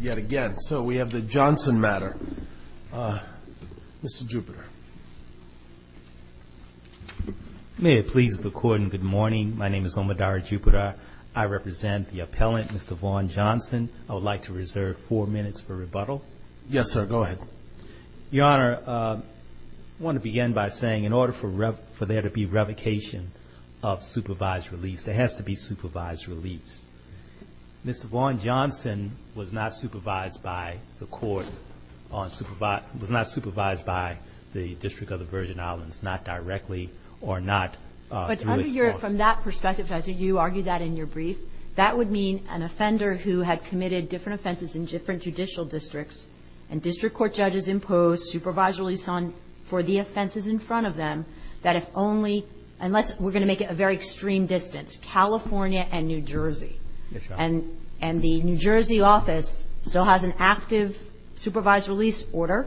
yet again. So we have the Johnson matter. Mr. Jupiter. May it please the court and good morning. My name is Omodara Jupiter. I represent the appellant, Mr. Vaughn Johnson. I would like to reserve four minutes for rebuttal. Yes, sir. Go ahead. Your Honor, I want to begin by saying in order for there to be revocation of supervised release, there has to be supervised release. Mr. Vaughn Johnson was not supervised by the court on supervised, was not supervised by the District of the Virgin Islands, not directly or not through its court. But under your, from that perspective, as you argued that in your brief, that would mean an offender who had committed different offenses in different judicial districts, and district court judges imposed supervised release on, for the offenses in front of them, that if only unless we're going to make it a very extreme distance, California and New Jersey. Yes, Your Honor. And the New Jersey office still has an active supervised release order,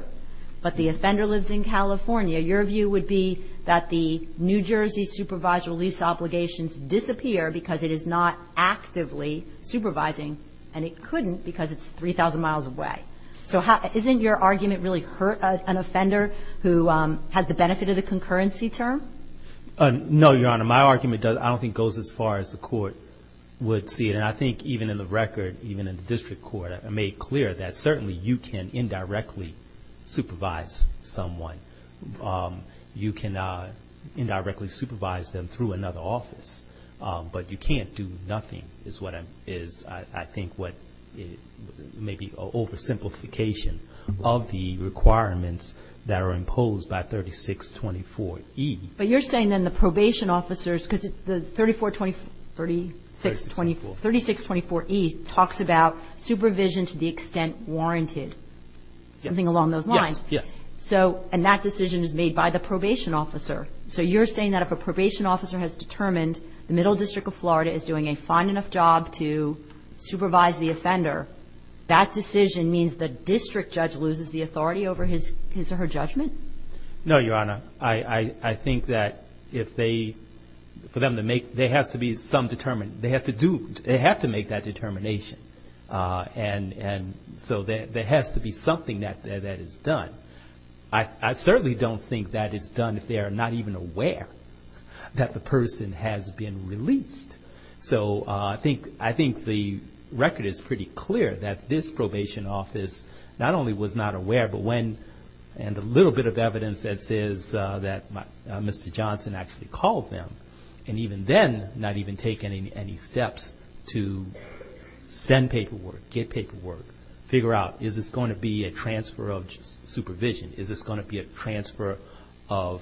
but the offender lives in California. Your view would be that the New Jersey supervised release obligations disappear because it is not actively supervising, and it couldn't because it's 3,000 miles away. So isn't your argument really hurt an offender who has the benefit of the concurrency term? No, Your Honor. My argument doesn't, I don't think, goes as far as the court would see it. And I think even in the record, even in the district court, I made clear that certainly you can indirectly supervise someone. You can indirectly supervise them through another office, but you can't do nothing is what I'm, is I think what maybe an oversimplification of the requirements that are imposed by 3624E. But you're saying then the probation officers, because it's the 3424, 3624, 3624E talks about supervision to the extent warranted, something along those lines. Yes, yes. So, and that decision is made by the probation officer. So you're saying that if a probation officer has determined the Middle District of Florida is doing a fine enough job to supervise the offender, that decision means the district judge loses the authority over his or her judgment? No, Your Honor. I think that if they, for them to make, there has to be some determined, they have to do, they have to make that determination. And so there has to be something that is done. I certainly don't think that is done if they are not even aware that the person has been released. So I think the record is pretty clear that this probation office not only was not aware, but when, and a little bit of evidence that says that Mr. Johnson actually called them, and even then not even taking any steps to send paperwork, get paperwork, figure out, is this going to be a transfer of supervision? Is this going to be a transfer of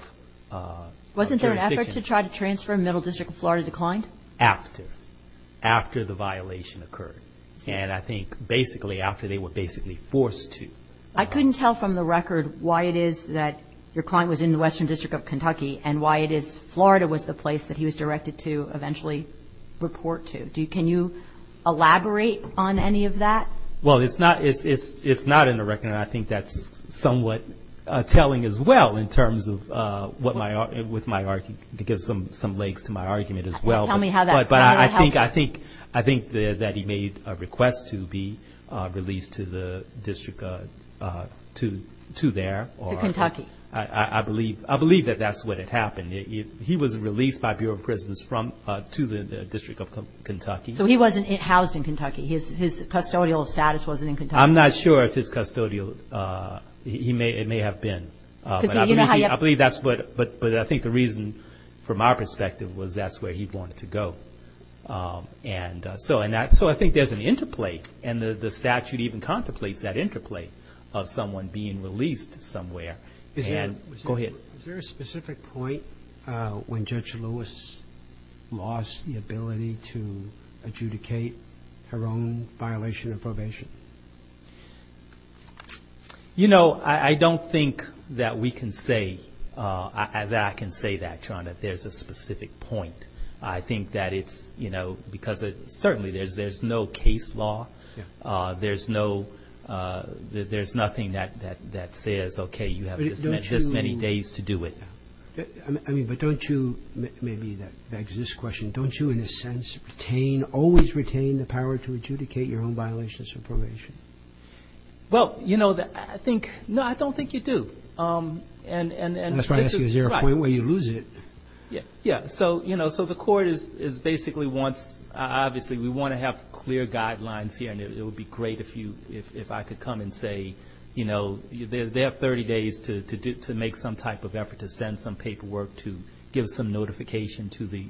jurisdiction? Wasn't there an effort to try to transfer and Middle District of Florida declined? After. After the violation occurred. And I think basically after they were basically forced to. I couldn't tell from the record why it is that your client was in the Western District of Kentucky, and why it is Florida was the place that he was directed to eventually report to. Can you elaborate on any of that? Well, it's not in the record, and I think that's somewhat telling as well in terms of what my, with my, it gives some legs to my argument as well. Tell me how that helps you. But I think that he made a request to be released to the district, to there. To Kentucky. I believe that that's what had happened. He was released by Bureau of Prisons to the District of Kentucky. So he wasn't housed in Kentucky. His custodial status wasn't in Kentucky. I'm not sure if his custodial, it may have been. Because you know how you have to. But I think the reason from our perspective was that's where he wanted to go. And so I think there's an interplay, and the statute even contemplates that interplay of someone being released somewhere. Go ahead. Was there a specific point when Judge Lewis lost the ability to adjudicate her own violation of probation? You know, I don't think that we can say, that I can say that, John, that there's a specific point. I think that it's, you know, because certainly there's no case law. There's no, there's nothing that says, okay, you have this many days to do it. I mean, but don't you, maybe that begs this question, don't you in a sense retain, always retain the power to adjudicate your own violations of probation? Well, you know, I think, no, I don't think you do. And this is, right. That's what I'm asking, is there a point where you lose it? Yeah, so, you know, so the court is basically wants, obviously we want to have clear guidelines here, and it would be great if I could come and say, you know, they have 30 days to make some type of effort to send some paperwork to give some notification to the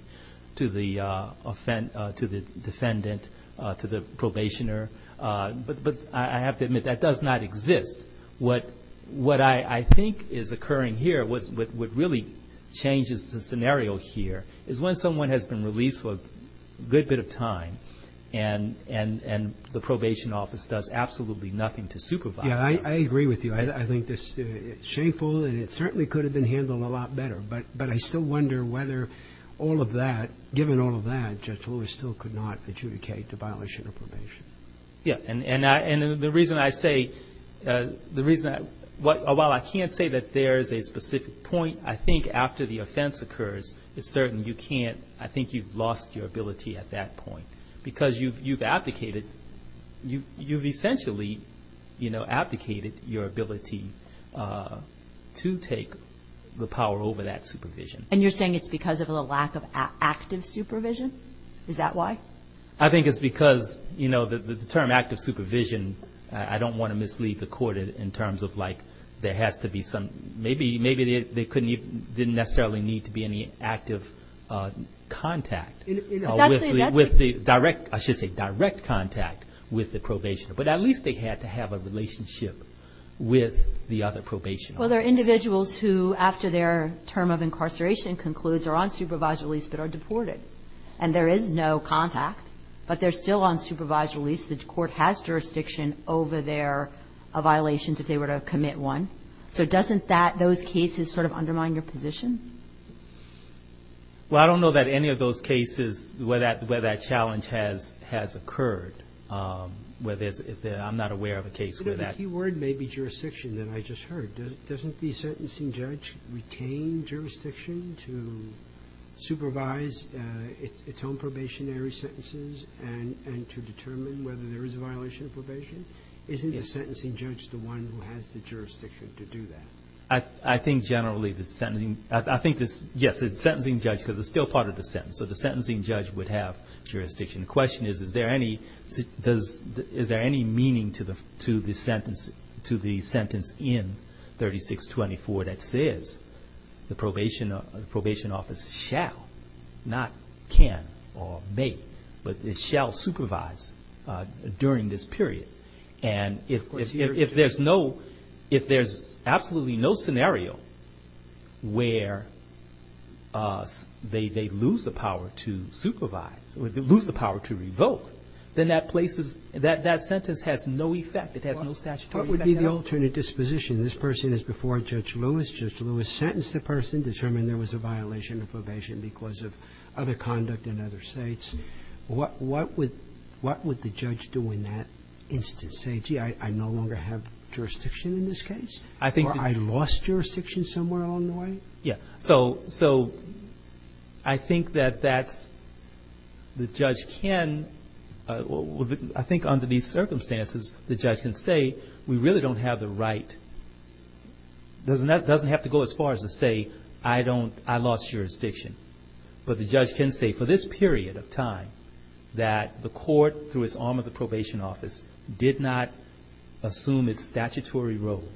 defendant, to the probationer. But I have to admit, that does not exist. What I think is occurring here, what really changes the scenario here, is when someone has been released for a good bit of time and the probation office does absolutely nothing to supervise them. Yeah, I agree with you. I think this is shameful and it certainly could have been handled a lot better. But I still wonder whether all of that, given all of that, Judge Lewis still could not adjudicate a violation of probation. Yeah, and the reason I say, the reason, while I can't say that there is a specific point, I think after the offense occurs it's certain you can't, I think you've lost your ability at that point. Because you've abdicated, you've essentially, you know, abdicated your ability to take the power over that supervision. And you're saying it's because of a lack of active supervision? Is that why? I think it's because, you know, the term active supervision, I don't want to mislead the court in terms of like there has to be some, maybe they didn't necessarily need to be any active contact. With the direct, I should say direct contact with the probationer. But at least they had to have a relationship with the other probationers. Well, there are individuals who after their term of incarceration concludes are on supervised release but are deported. And there is no contact, but they're still on supervised release. The court has jurisdiction over their violations if they were to commit one. So doesn't that, those cases sort of undermine your position? Well, I don't know that any of those cases where that challenge has occurred. I'm not aware of a case where that. The key word may be jurisdiction that I just heard. Doesn't the sentencing judge retain jurisdiction to supervise its own probationary sentences and to determine whether there is a violation of probation? Isn't the sentencing judge the one who has the jurisdiction to do that? I think generally the sentencing, yes, the sentencing judge because it's still part of the sentence. So the sentencing judge would have jurisdiction. The question is, is there any meaning to the sentence in 3624 that says the probation office shall, not can or may, but it shall supervise during this period. And if there's no, if there's absolutely no scenario where they lose the power to supervise, lose the power to revoke, then that place is, that sentence has no effect. It has no statutory effect. What would be the alternate disposition? This person is before Judge Lewis. Judge Lewis sentenced the person, determined there was a violation of probation because of other conduct in other states. What would the judge do in that instance? Say, gee, I no longer have jurisdiction in this case? Or I lost jurisdiction somewhere along the way? Yeah. So I think that that's, the judge can, I think under these circumstances, the judge can say we really don't have the right, doesn't have to go as far as to say I don't, I lost jurisdiction. But the judge can say for this period of time that the court, through its arm of the probation office, did not assume its statutory role,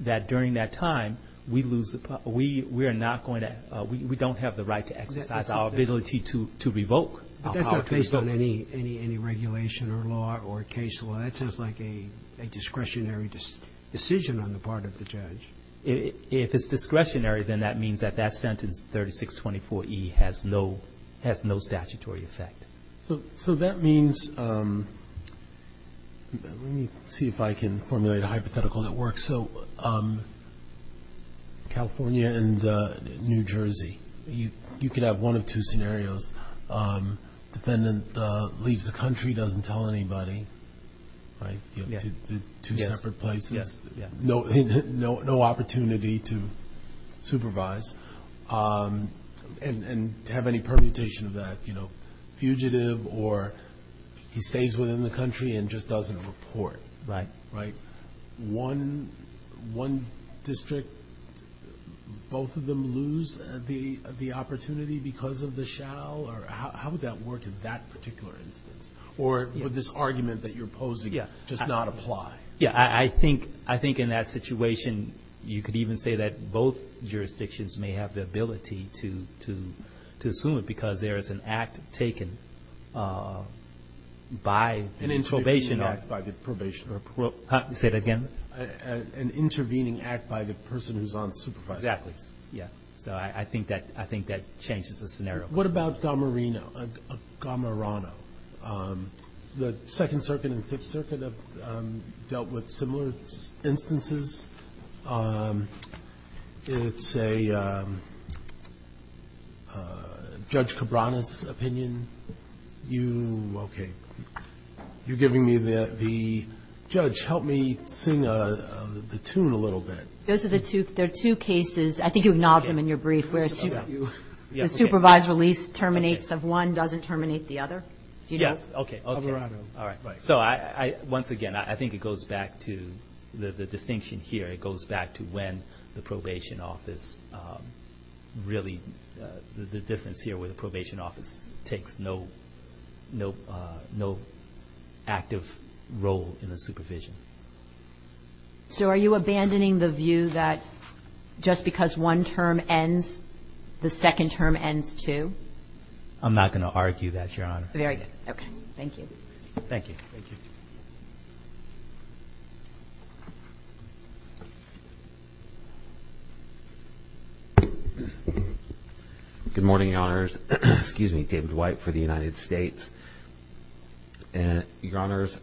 that during that time we lose, we are not going to, we don't have the right to exercise our ability to revoke. But that's not based on any regulation or law or case law. That sounds like a discretionary decision on the part of the judge. If it's discretionary, then that means that that sentence, 3624E, has no statutory effect. So that means, let me see if I can formulate a hypothetical that works. So California and New Jersey, you could have one of two scenarios. Defendant leaves the country, doesn't tell anybody, right? Two separate places. Yes. No opportunity to supervise and have any permutation of that, you know, fugitive or he stays within the country and just doesn't report. Right. Right. One district, both of them lose the opportunity because of the shall, or how would that work in that particular instance? Or would this argument that you're posing just not apply? Yeah. I think in that situation, you could even say that both jurisdictions may have the ability to assume it because there is an act taken by the probation officer. An intervening act by the probation officer. Say it again. An intervening act by the person who's on supervising. Exactly. Yeah. So I think that changes the scenario. What about Gamarino? Gamarino. The Second Circuit and Fifth Circuit have dealt with similar instances. It's a Judge Cabrana's opinion. You, okay. You're giving me the, Judge, help me sing the tune a little bit. Those are the two, there are two cases. I think you acknowledged them in your brief. The supervised release terminates if one doesn't terminate the other. Yes. Okay. All right. So once again, I think it goes back to the distinction here. It goes back to when the probation office really, the difference here where the probation office takes no active role in the supervision. So are you abandoning the view that just because one term ends, the second term ends too? I'm not going to argue that, Your Honor. Very good. Okay. Thank you. Thank you. Good morning, Your Honors. Excuse me, David White for the United States. Your Honors,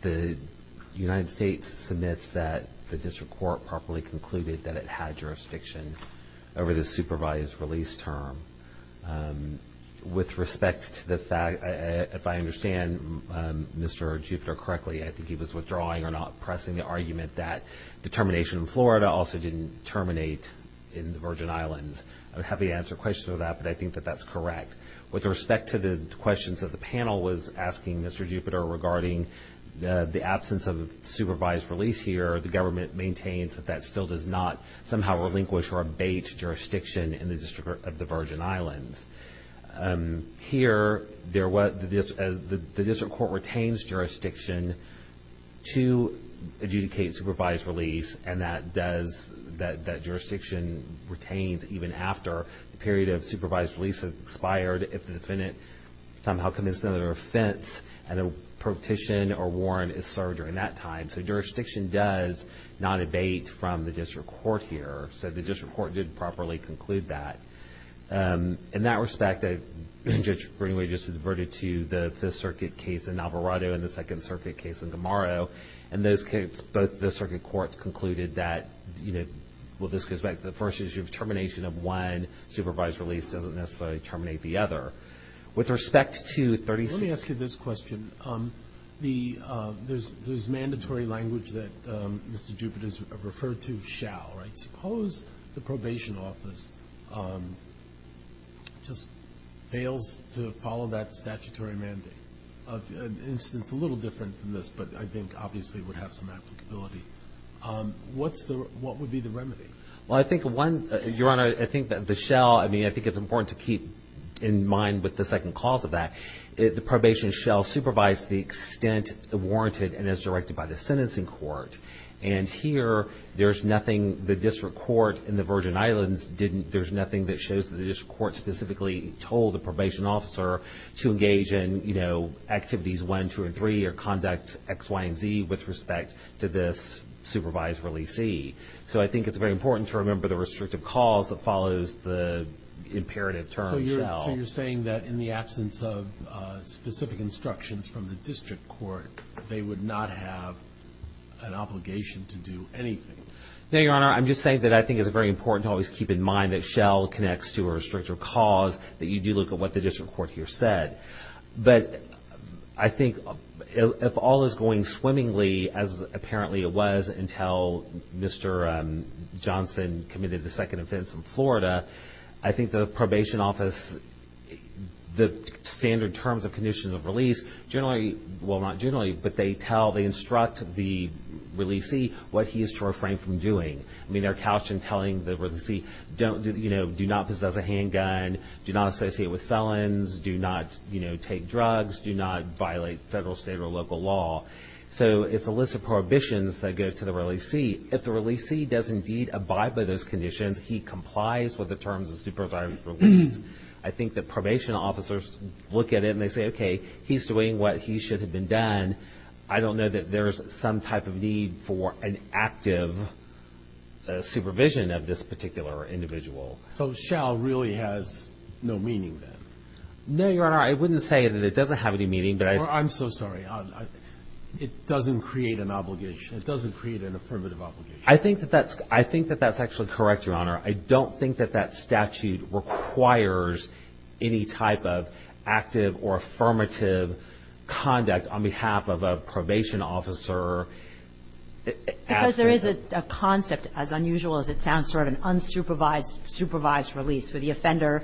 the United States submits that the district court properly concluded that it had jurisdiction over the supervised release term. With respect to the fact, if I understand Mr. Jupiter correctly, I think he was withdrawing or not pressing the argument that the termination in Florida also didn't terminate in the Virgin Islands. I would be happy to answer questions about that, but I think that that's correct. With respect to the questions that the panel was asking Mr. Jupiter regarding the absence of supervised release here, the government maintains that that still does not somehow relinquish or abate jurisdiction in the District of the Virgin Islands. Here, the district court retains jurisdiction to adjudicate supervised release, and that jurisdiction retains even after the period of supervised release has expired if the defendant somehow commits another offense and a petition or warrant is served during that time. So, jurisdiction does not abate from the district court here. So, the district court did properly conclude that. In that respect, Judge Greenway just adverted to the Fifth Circuit case in Alvarado and the Second Circuit case in Gamaro, and both the circuit courts concluded that, well, this goes back to the first issue of termination of one. Supervised release doesn't necessarily terminate the other. With respect to 36- Let me ask you this question. There's mandatory language that Mr. Jupiter has referred to, shall, right? Suppose the probation office just fails to follow that statutory mandate. It's a little different than this, but I think obviously it would have some applicability. What would be the remedy? Well, I think one, Your Honor, I think that the shell, I mean, I think it's important to keep in mind with the second clause of that, the probation shell supervised to the extent warranted and is directed by the sentencing court. And here, there's nothing the district court in the Virgin Islands didn't, there's nothing that shows that the district court specifically told the probation officer to engage in, you know, activities one, two, and three or conduct X, Y, and Z with respect to this supervised release C. So I think it's very important to remember the restrictive clause that follows the imperative term shell. So you're saying that in the absence of specific instructions from the district court, they would not have an obligation to do anything? No, Your Honor. I'm just saying that I think it's very important to always keep in mind that shell connects to a restrictive clause, that you do look at what the district court here said. But I think if all is going swimmingly as apparently it was until Mr. Johnson committed the second offense in Florida, I think the probation office, the standard terms of conditions of release generally, well, not generally, but they tell, they instruct the release C what he is to refrain from doing. I mean, they're couched in telling the release C, you know, do not possess a handgun, do not associate with felons, do not, you know, take drugs, do not violate federal, state, or local law. So it's a list of prohibitions that go to the release C. If the release C does indeed abide by those conditions, he complies with the terms of supervised release. I think that probation officers look at it and they say, okay, he's doing what he should have been done. I don't know that there is some type of need for an active supervision of this particular individual. So shell really has no meaning then? No, Your Honor. I wouldn't say that it doesn't have any meaning, but I... I'm so sorry. It doesn't create an obligation. It doesn't create an affirmative obligation. I think that that's actually correct, Your Honor. I don't think that that statute requires any type of active or affirmative conduct on behalf of a probation officer. Because there is a concept, as unusual as it sounds, sort of an unsupervised supervised release where the offender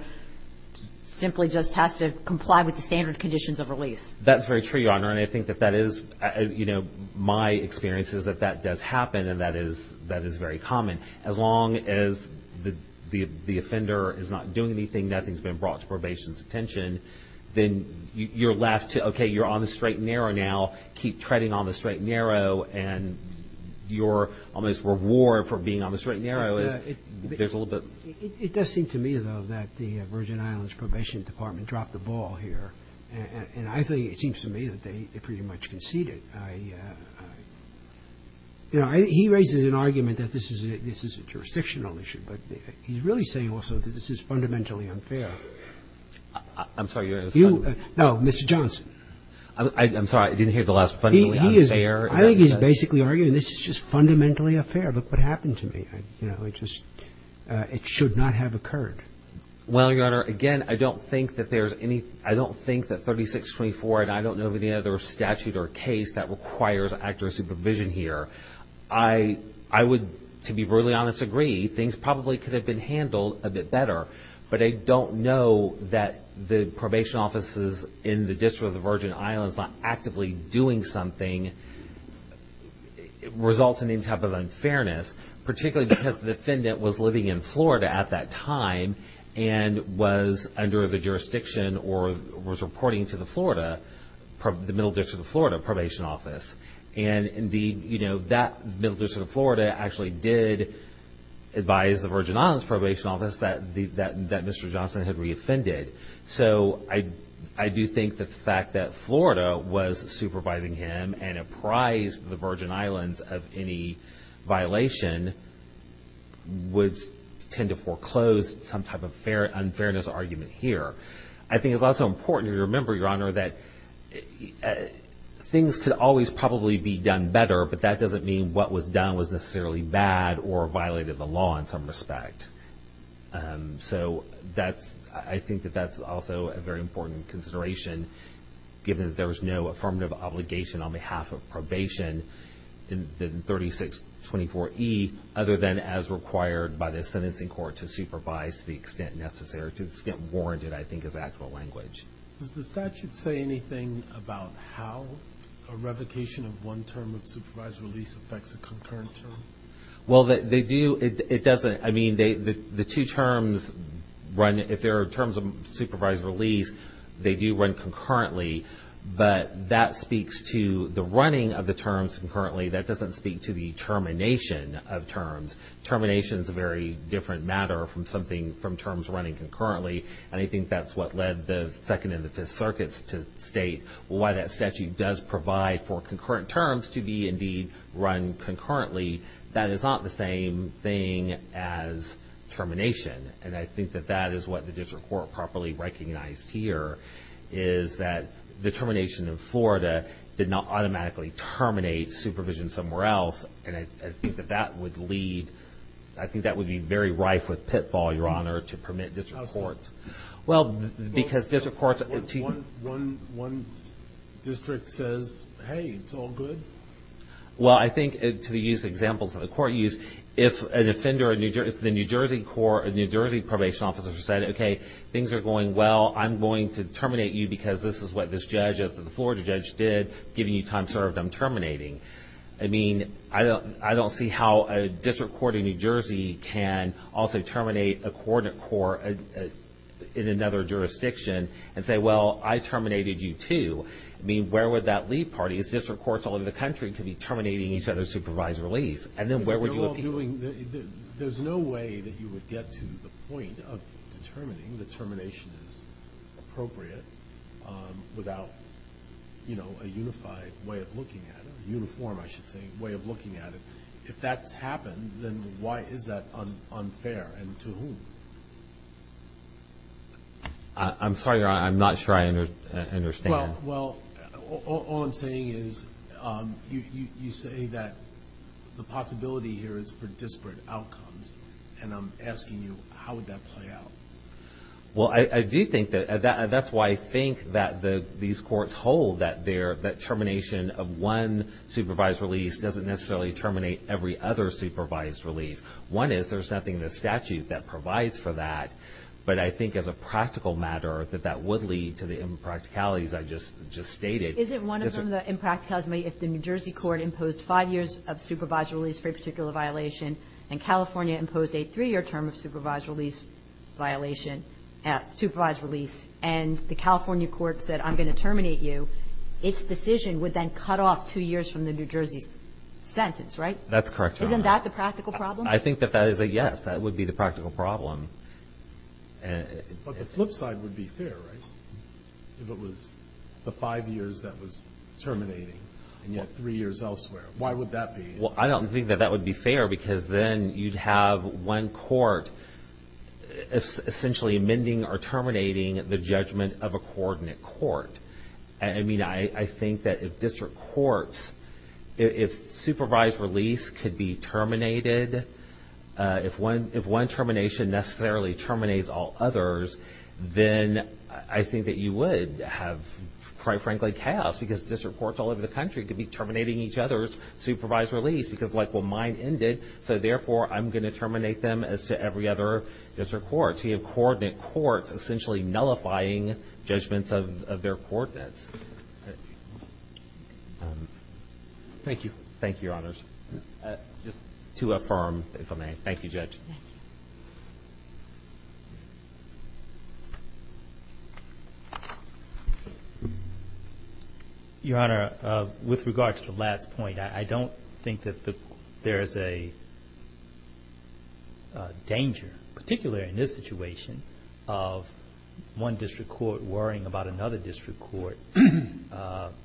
simply just has to comply with the standard conditions of release. That's very true, Your Honor. And I think that that is, you know, my experience is that that does happen and that is very common. As long as the offender is not doing anything, nothing has been brought to probation's attention, then you're left to, okay, you're on the straight and narrow now, keep treading on the straight and narrow, and your almost reward for being on the straight and narrow is, there's a little bit... It does seem to me, though, that the Virgin Islands Probation Department dropped the ball here. And I think, it seems to me, that they pretty much conceded. I, you know, he raises an argument that this is a jurisdictional issue, but he's really saying also that this is fundamentally unfair. I'm sorry, Your Honor. No, Mr. Johnson. I'm sorry, I didn't hear the last fundamentally unfair. I think he's basically arguing this is just fundamentally unfair. Look what happened to me. You know, it just, it should not have occurred. Well, Your Honor, again, I don't think that there's any, I don't think that 3624, and I don't know of any other statute or case that requires active supervision here. I would, to be brutally honest, agree. Things probably could have been handled a bit better. But I don't know that the probation offices in the District of the Virgin Islands not actively doing something results in any type of unfairness, particularly because the defendant was living in Florida at that time and was under the jurisdiction or was reporting to the Florida, the Middle District of Florida Probation Office. And the, you know, that Middle District of Florida actually did advise the Virgin Islands Probation Office that Mr. Johnson had reoffended. So I do think the fact that Florida was supervising him and apprised the Virgin Islands of any violation would tend to foreclose some type of unfairness argument here. I think it's also important to remember, Your Honor, that things could always probably be done better, but that doesn't mean what was done was necessarily bad or violated the law in some respect. So that's, I think that that's also a very important consideration given that there was no affirmative obligation on behalf of probation. In 3624E, other than as required by the sentencing court to supervise to the extent warranted, I think, is actual language. Does the statute say anything about how a revocation of one term of supervised release affects a concurrent term? Well, they do. It doesn't. I mean, the two terms run. If there are terms of supervised release, they do run concurrently. But that speaks to the running of the terms concurrently. That doesn't speak to the termination of terms. Termination is a very different matter from terms running concurrently. And I think that's what led the Second and the Fifth Circuits to state why that statute does provide for concurrent terms to be, indeed, run concurrently. That is not the same thing as termination. And I think that that is what the district court properly recognized here, is that the termination in Florida did not automatically terminate supervision somewhere else. And I think that that would lead, I think that would be very rife with pitfall, Your Honor, to permit district courts. Well, because district courts... One district says, hey, it's all good. Well, I think, to use examples that the court used, if the New Jersey probation officer said, okay, things are going well, I'm going to terminate you because this is what this judge, the Florida judge, did, giving you time served, I'm terminating. I mean, I don't see how a district court in New Jersey can also terminate a coordinate court in another jurisdiction and say, well, I terminated you too. I mean, where would that leave party, as district courts all over the country, could be terminating each other's supervised release? And then where would you appeal? There's no way that you would get to the point of determining that termination is appropriate without a unified way of looking at it, a uniform, I should say, way of looking at it. If that's happened, then why is that unfair and to whom? I'm sorry, Your Honor, I'm not sure I understand. Well, all I'm saying is you say that the possibility here is for disparate outcomes, and I'm asking you, how would that play out? Well, I do think that's why I think that these courts hold that termination of one supervised release doesn't necessarily terminate every other supervised release. One is there's nothing in the statute that provides for that, but I think as a practical matter that that would lead to the impracticalities I just stated. Isn't one of them the impracticalities, if the New Jersey court imposed five years of supervised release for a particular violation and California imposed a three-year term of supervised release violation, supervised release, and the California court said, I'm going to terminate you, its decision would then cut off two years from the New Jersey sentence, right? That's correct, Your Honor. Isn't that the practical problem? I think that that is a yes. That would be the practical problem. But the flip side would be fair, right? If it was the five years that was terminating and yet three years elsewhere, why would that be? Well, I don't think that that would be fair because then you'd have one court essentially amending or terminating the judgment of a coordinate court. I mean, I think that if district courts, if supervised release could be terminated, if one termination necessarily terminates all others, then I think that you would have, quite frankly, chaos because district courts all over the country could be terminating each other's supervised release because, like, well, mine ended, so therefore I'm going to terminate them as to every other district court. So you have coordinate courts essentially nullifying judgments of their coordinates. Thank you. Thank you, Your Honors. Thank you, Judge. Thank you. Your Honor, with regard to the last point, I don't think that there is a danger, particularly in this situation, of one district court worrying about another district court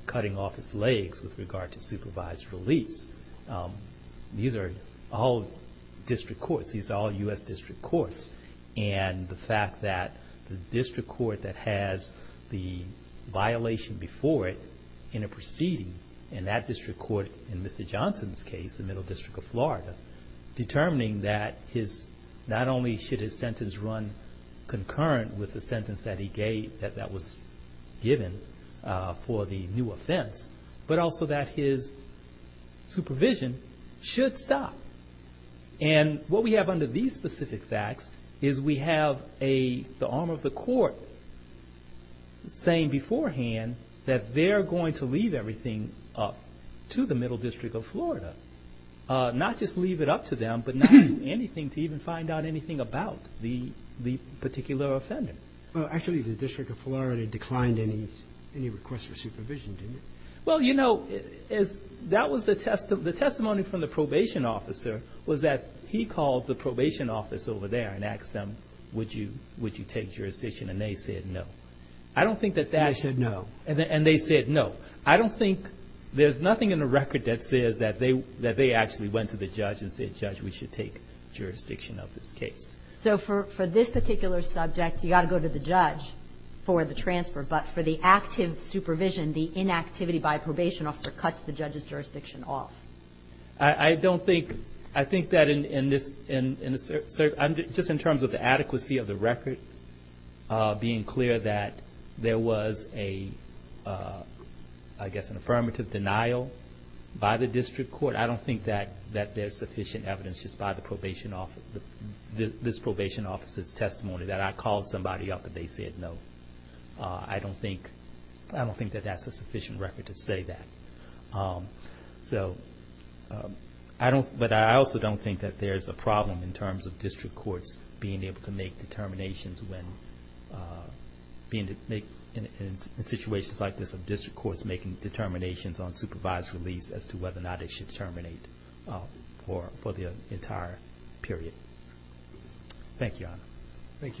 cutting off its legs with regard to supervised release. These are all district courts. These are all U.S. district courts. And the fact that the district court that has the violation before it in a proceeding, and that district court in Mr. Johnson's case, the Middle District of Florida, determining that not only should his sentence run concurrent with the sentence that he gave, that that was given for the new offense, but also that his supervision should stop. And what we have under these specific facts is we have the arm of the court saying beforehand that they're going to leave everything up to the Middle District of Florida, not just leave it up to them, but not do anything to even find out anything about the particular offender. Well, actually, the District of Florida declined any request for supervision, didn't it? Well, you know, that was the testimony from the probation officer, was that he called the probation office over there and asked them, would you take jurisdiction? And they said no. I don't think that that's... And they said no. And they said no. I don't think there's nothing in the record that says that they actually went to the judge and said, Judge, we should take jurisdiction of this case. So for this particular subject, you've got to go to the judge for the transfer, but for the active supervision, the inactivity by a probation officer cuts the judge's jurisdiction off. I don't think, I think that in this, just in terms of the adequacy of the record, being clear that there was a, I guess, an affirmative denial by the district court, but I don't think that there's sufficient evidence just by this probation officer's testimony that I called somebody up and they said no. I don't think that that's a sufficient record to say that. So I don't, but I also don't think that there's a problem in terms of district courts being able to make determinations when, in situations like this, district courts making determinations on supervised release as to whether or not it should terminate for the entire period. Thank you, Your Honor. Thank you.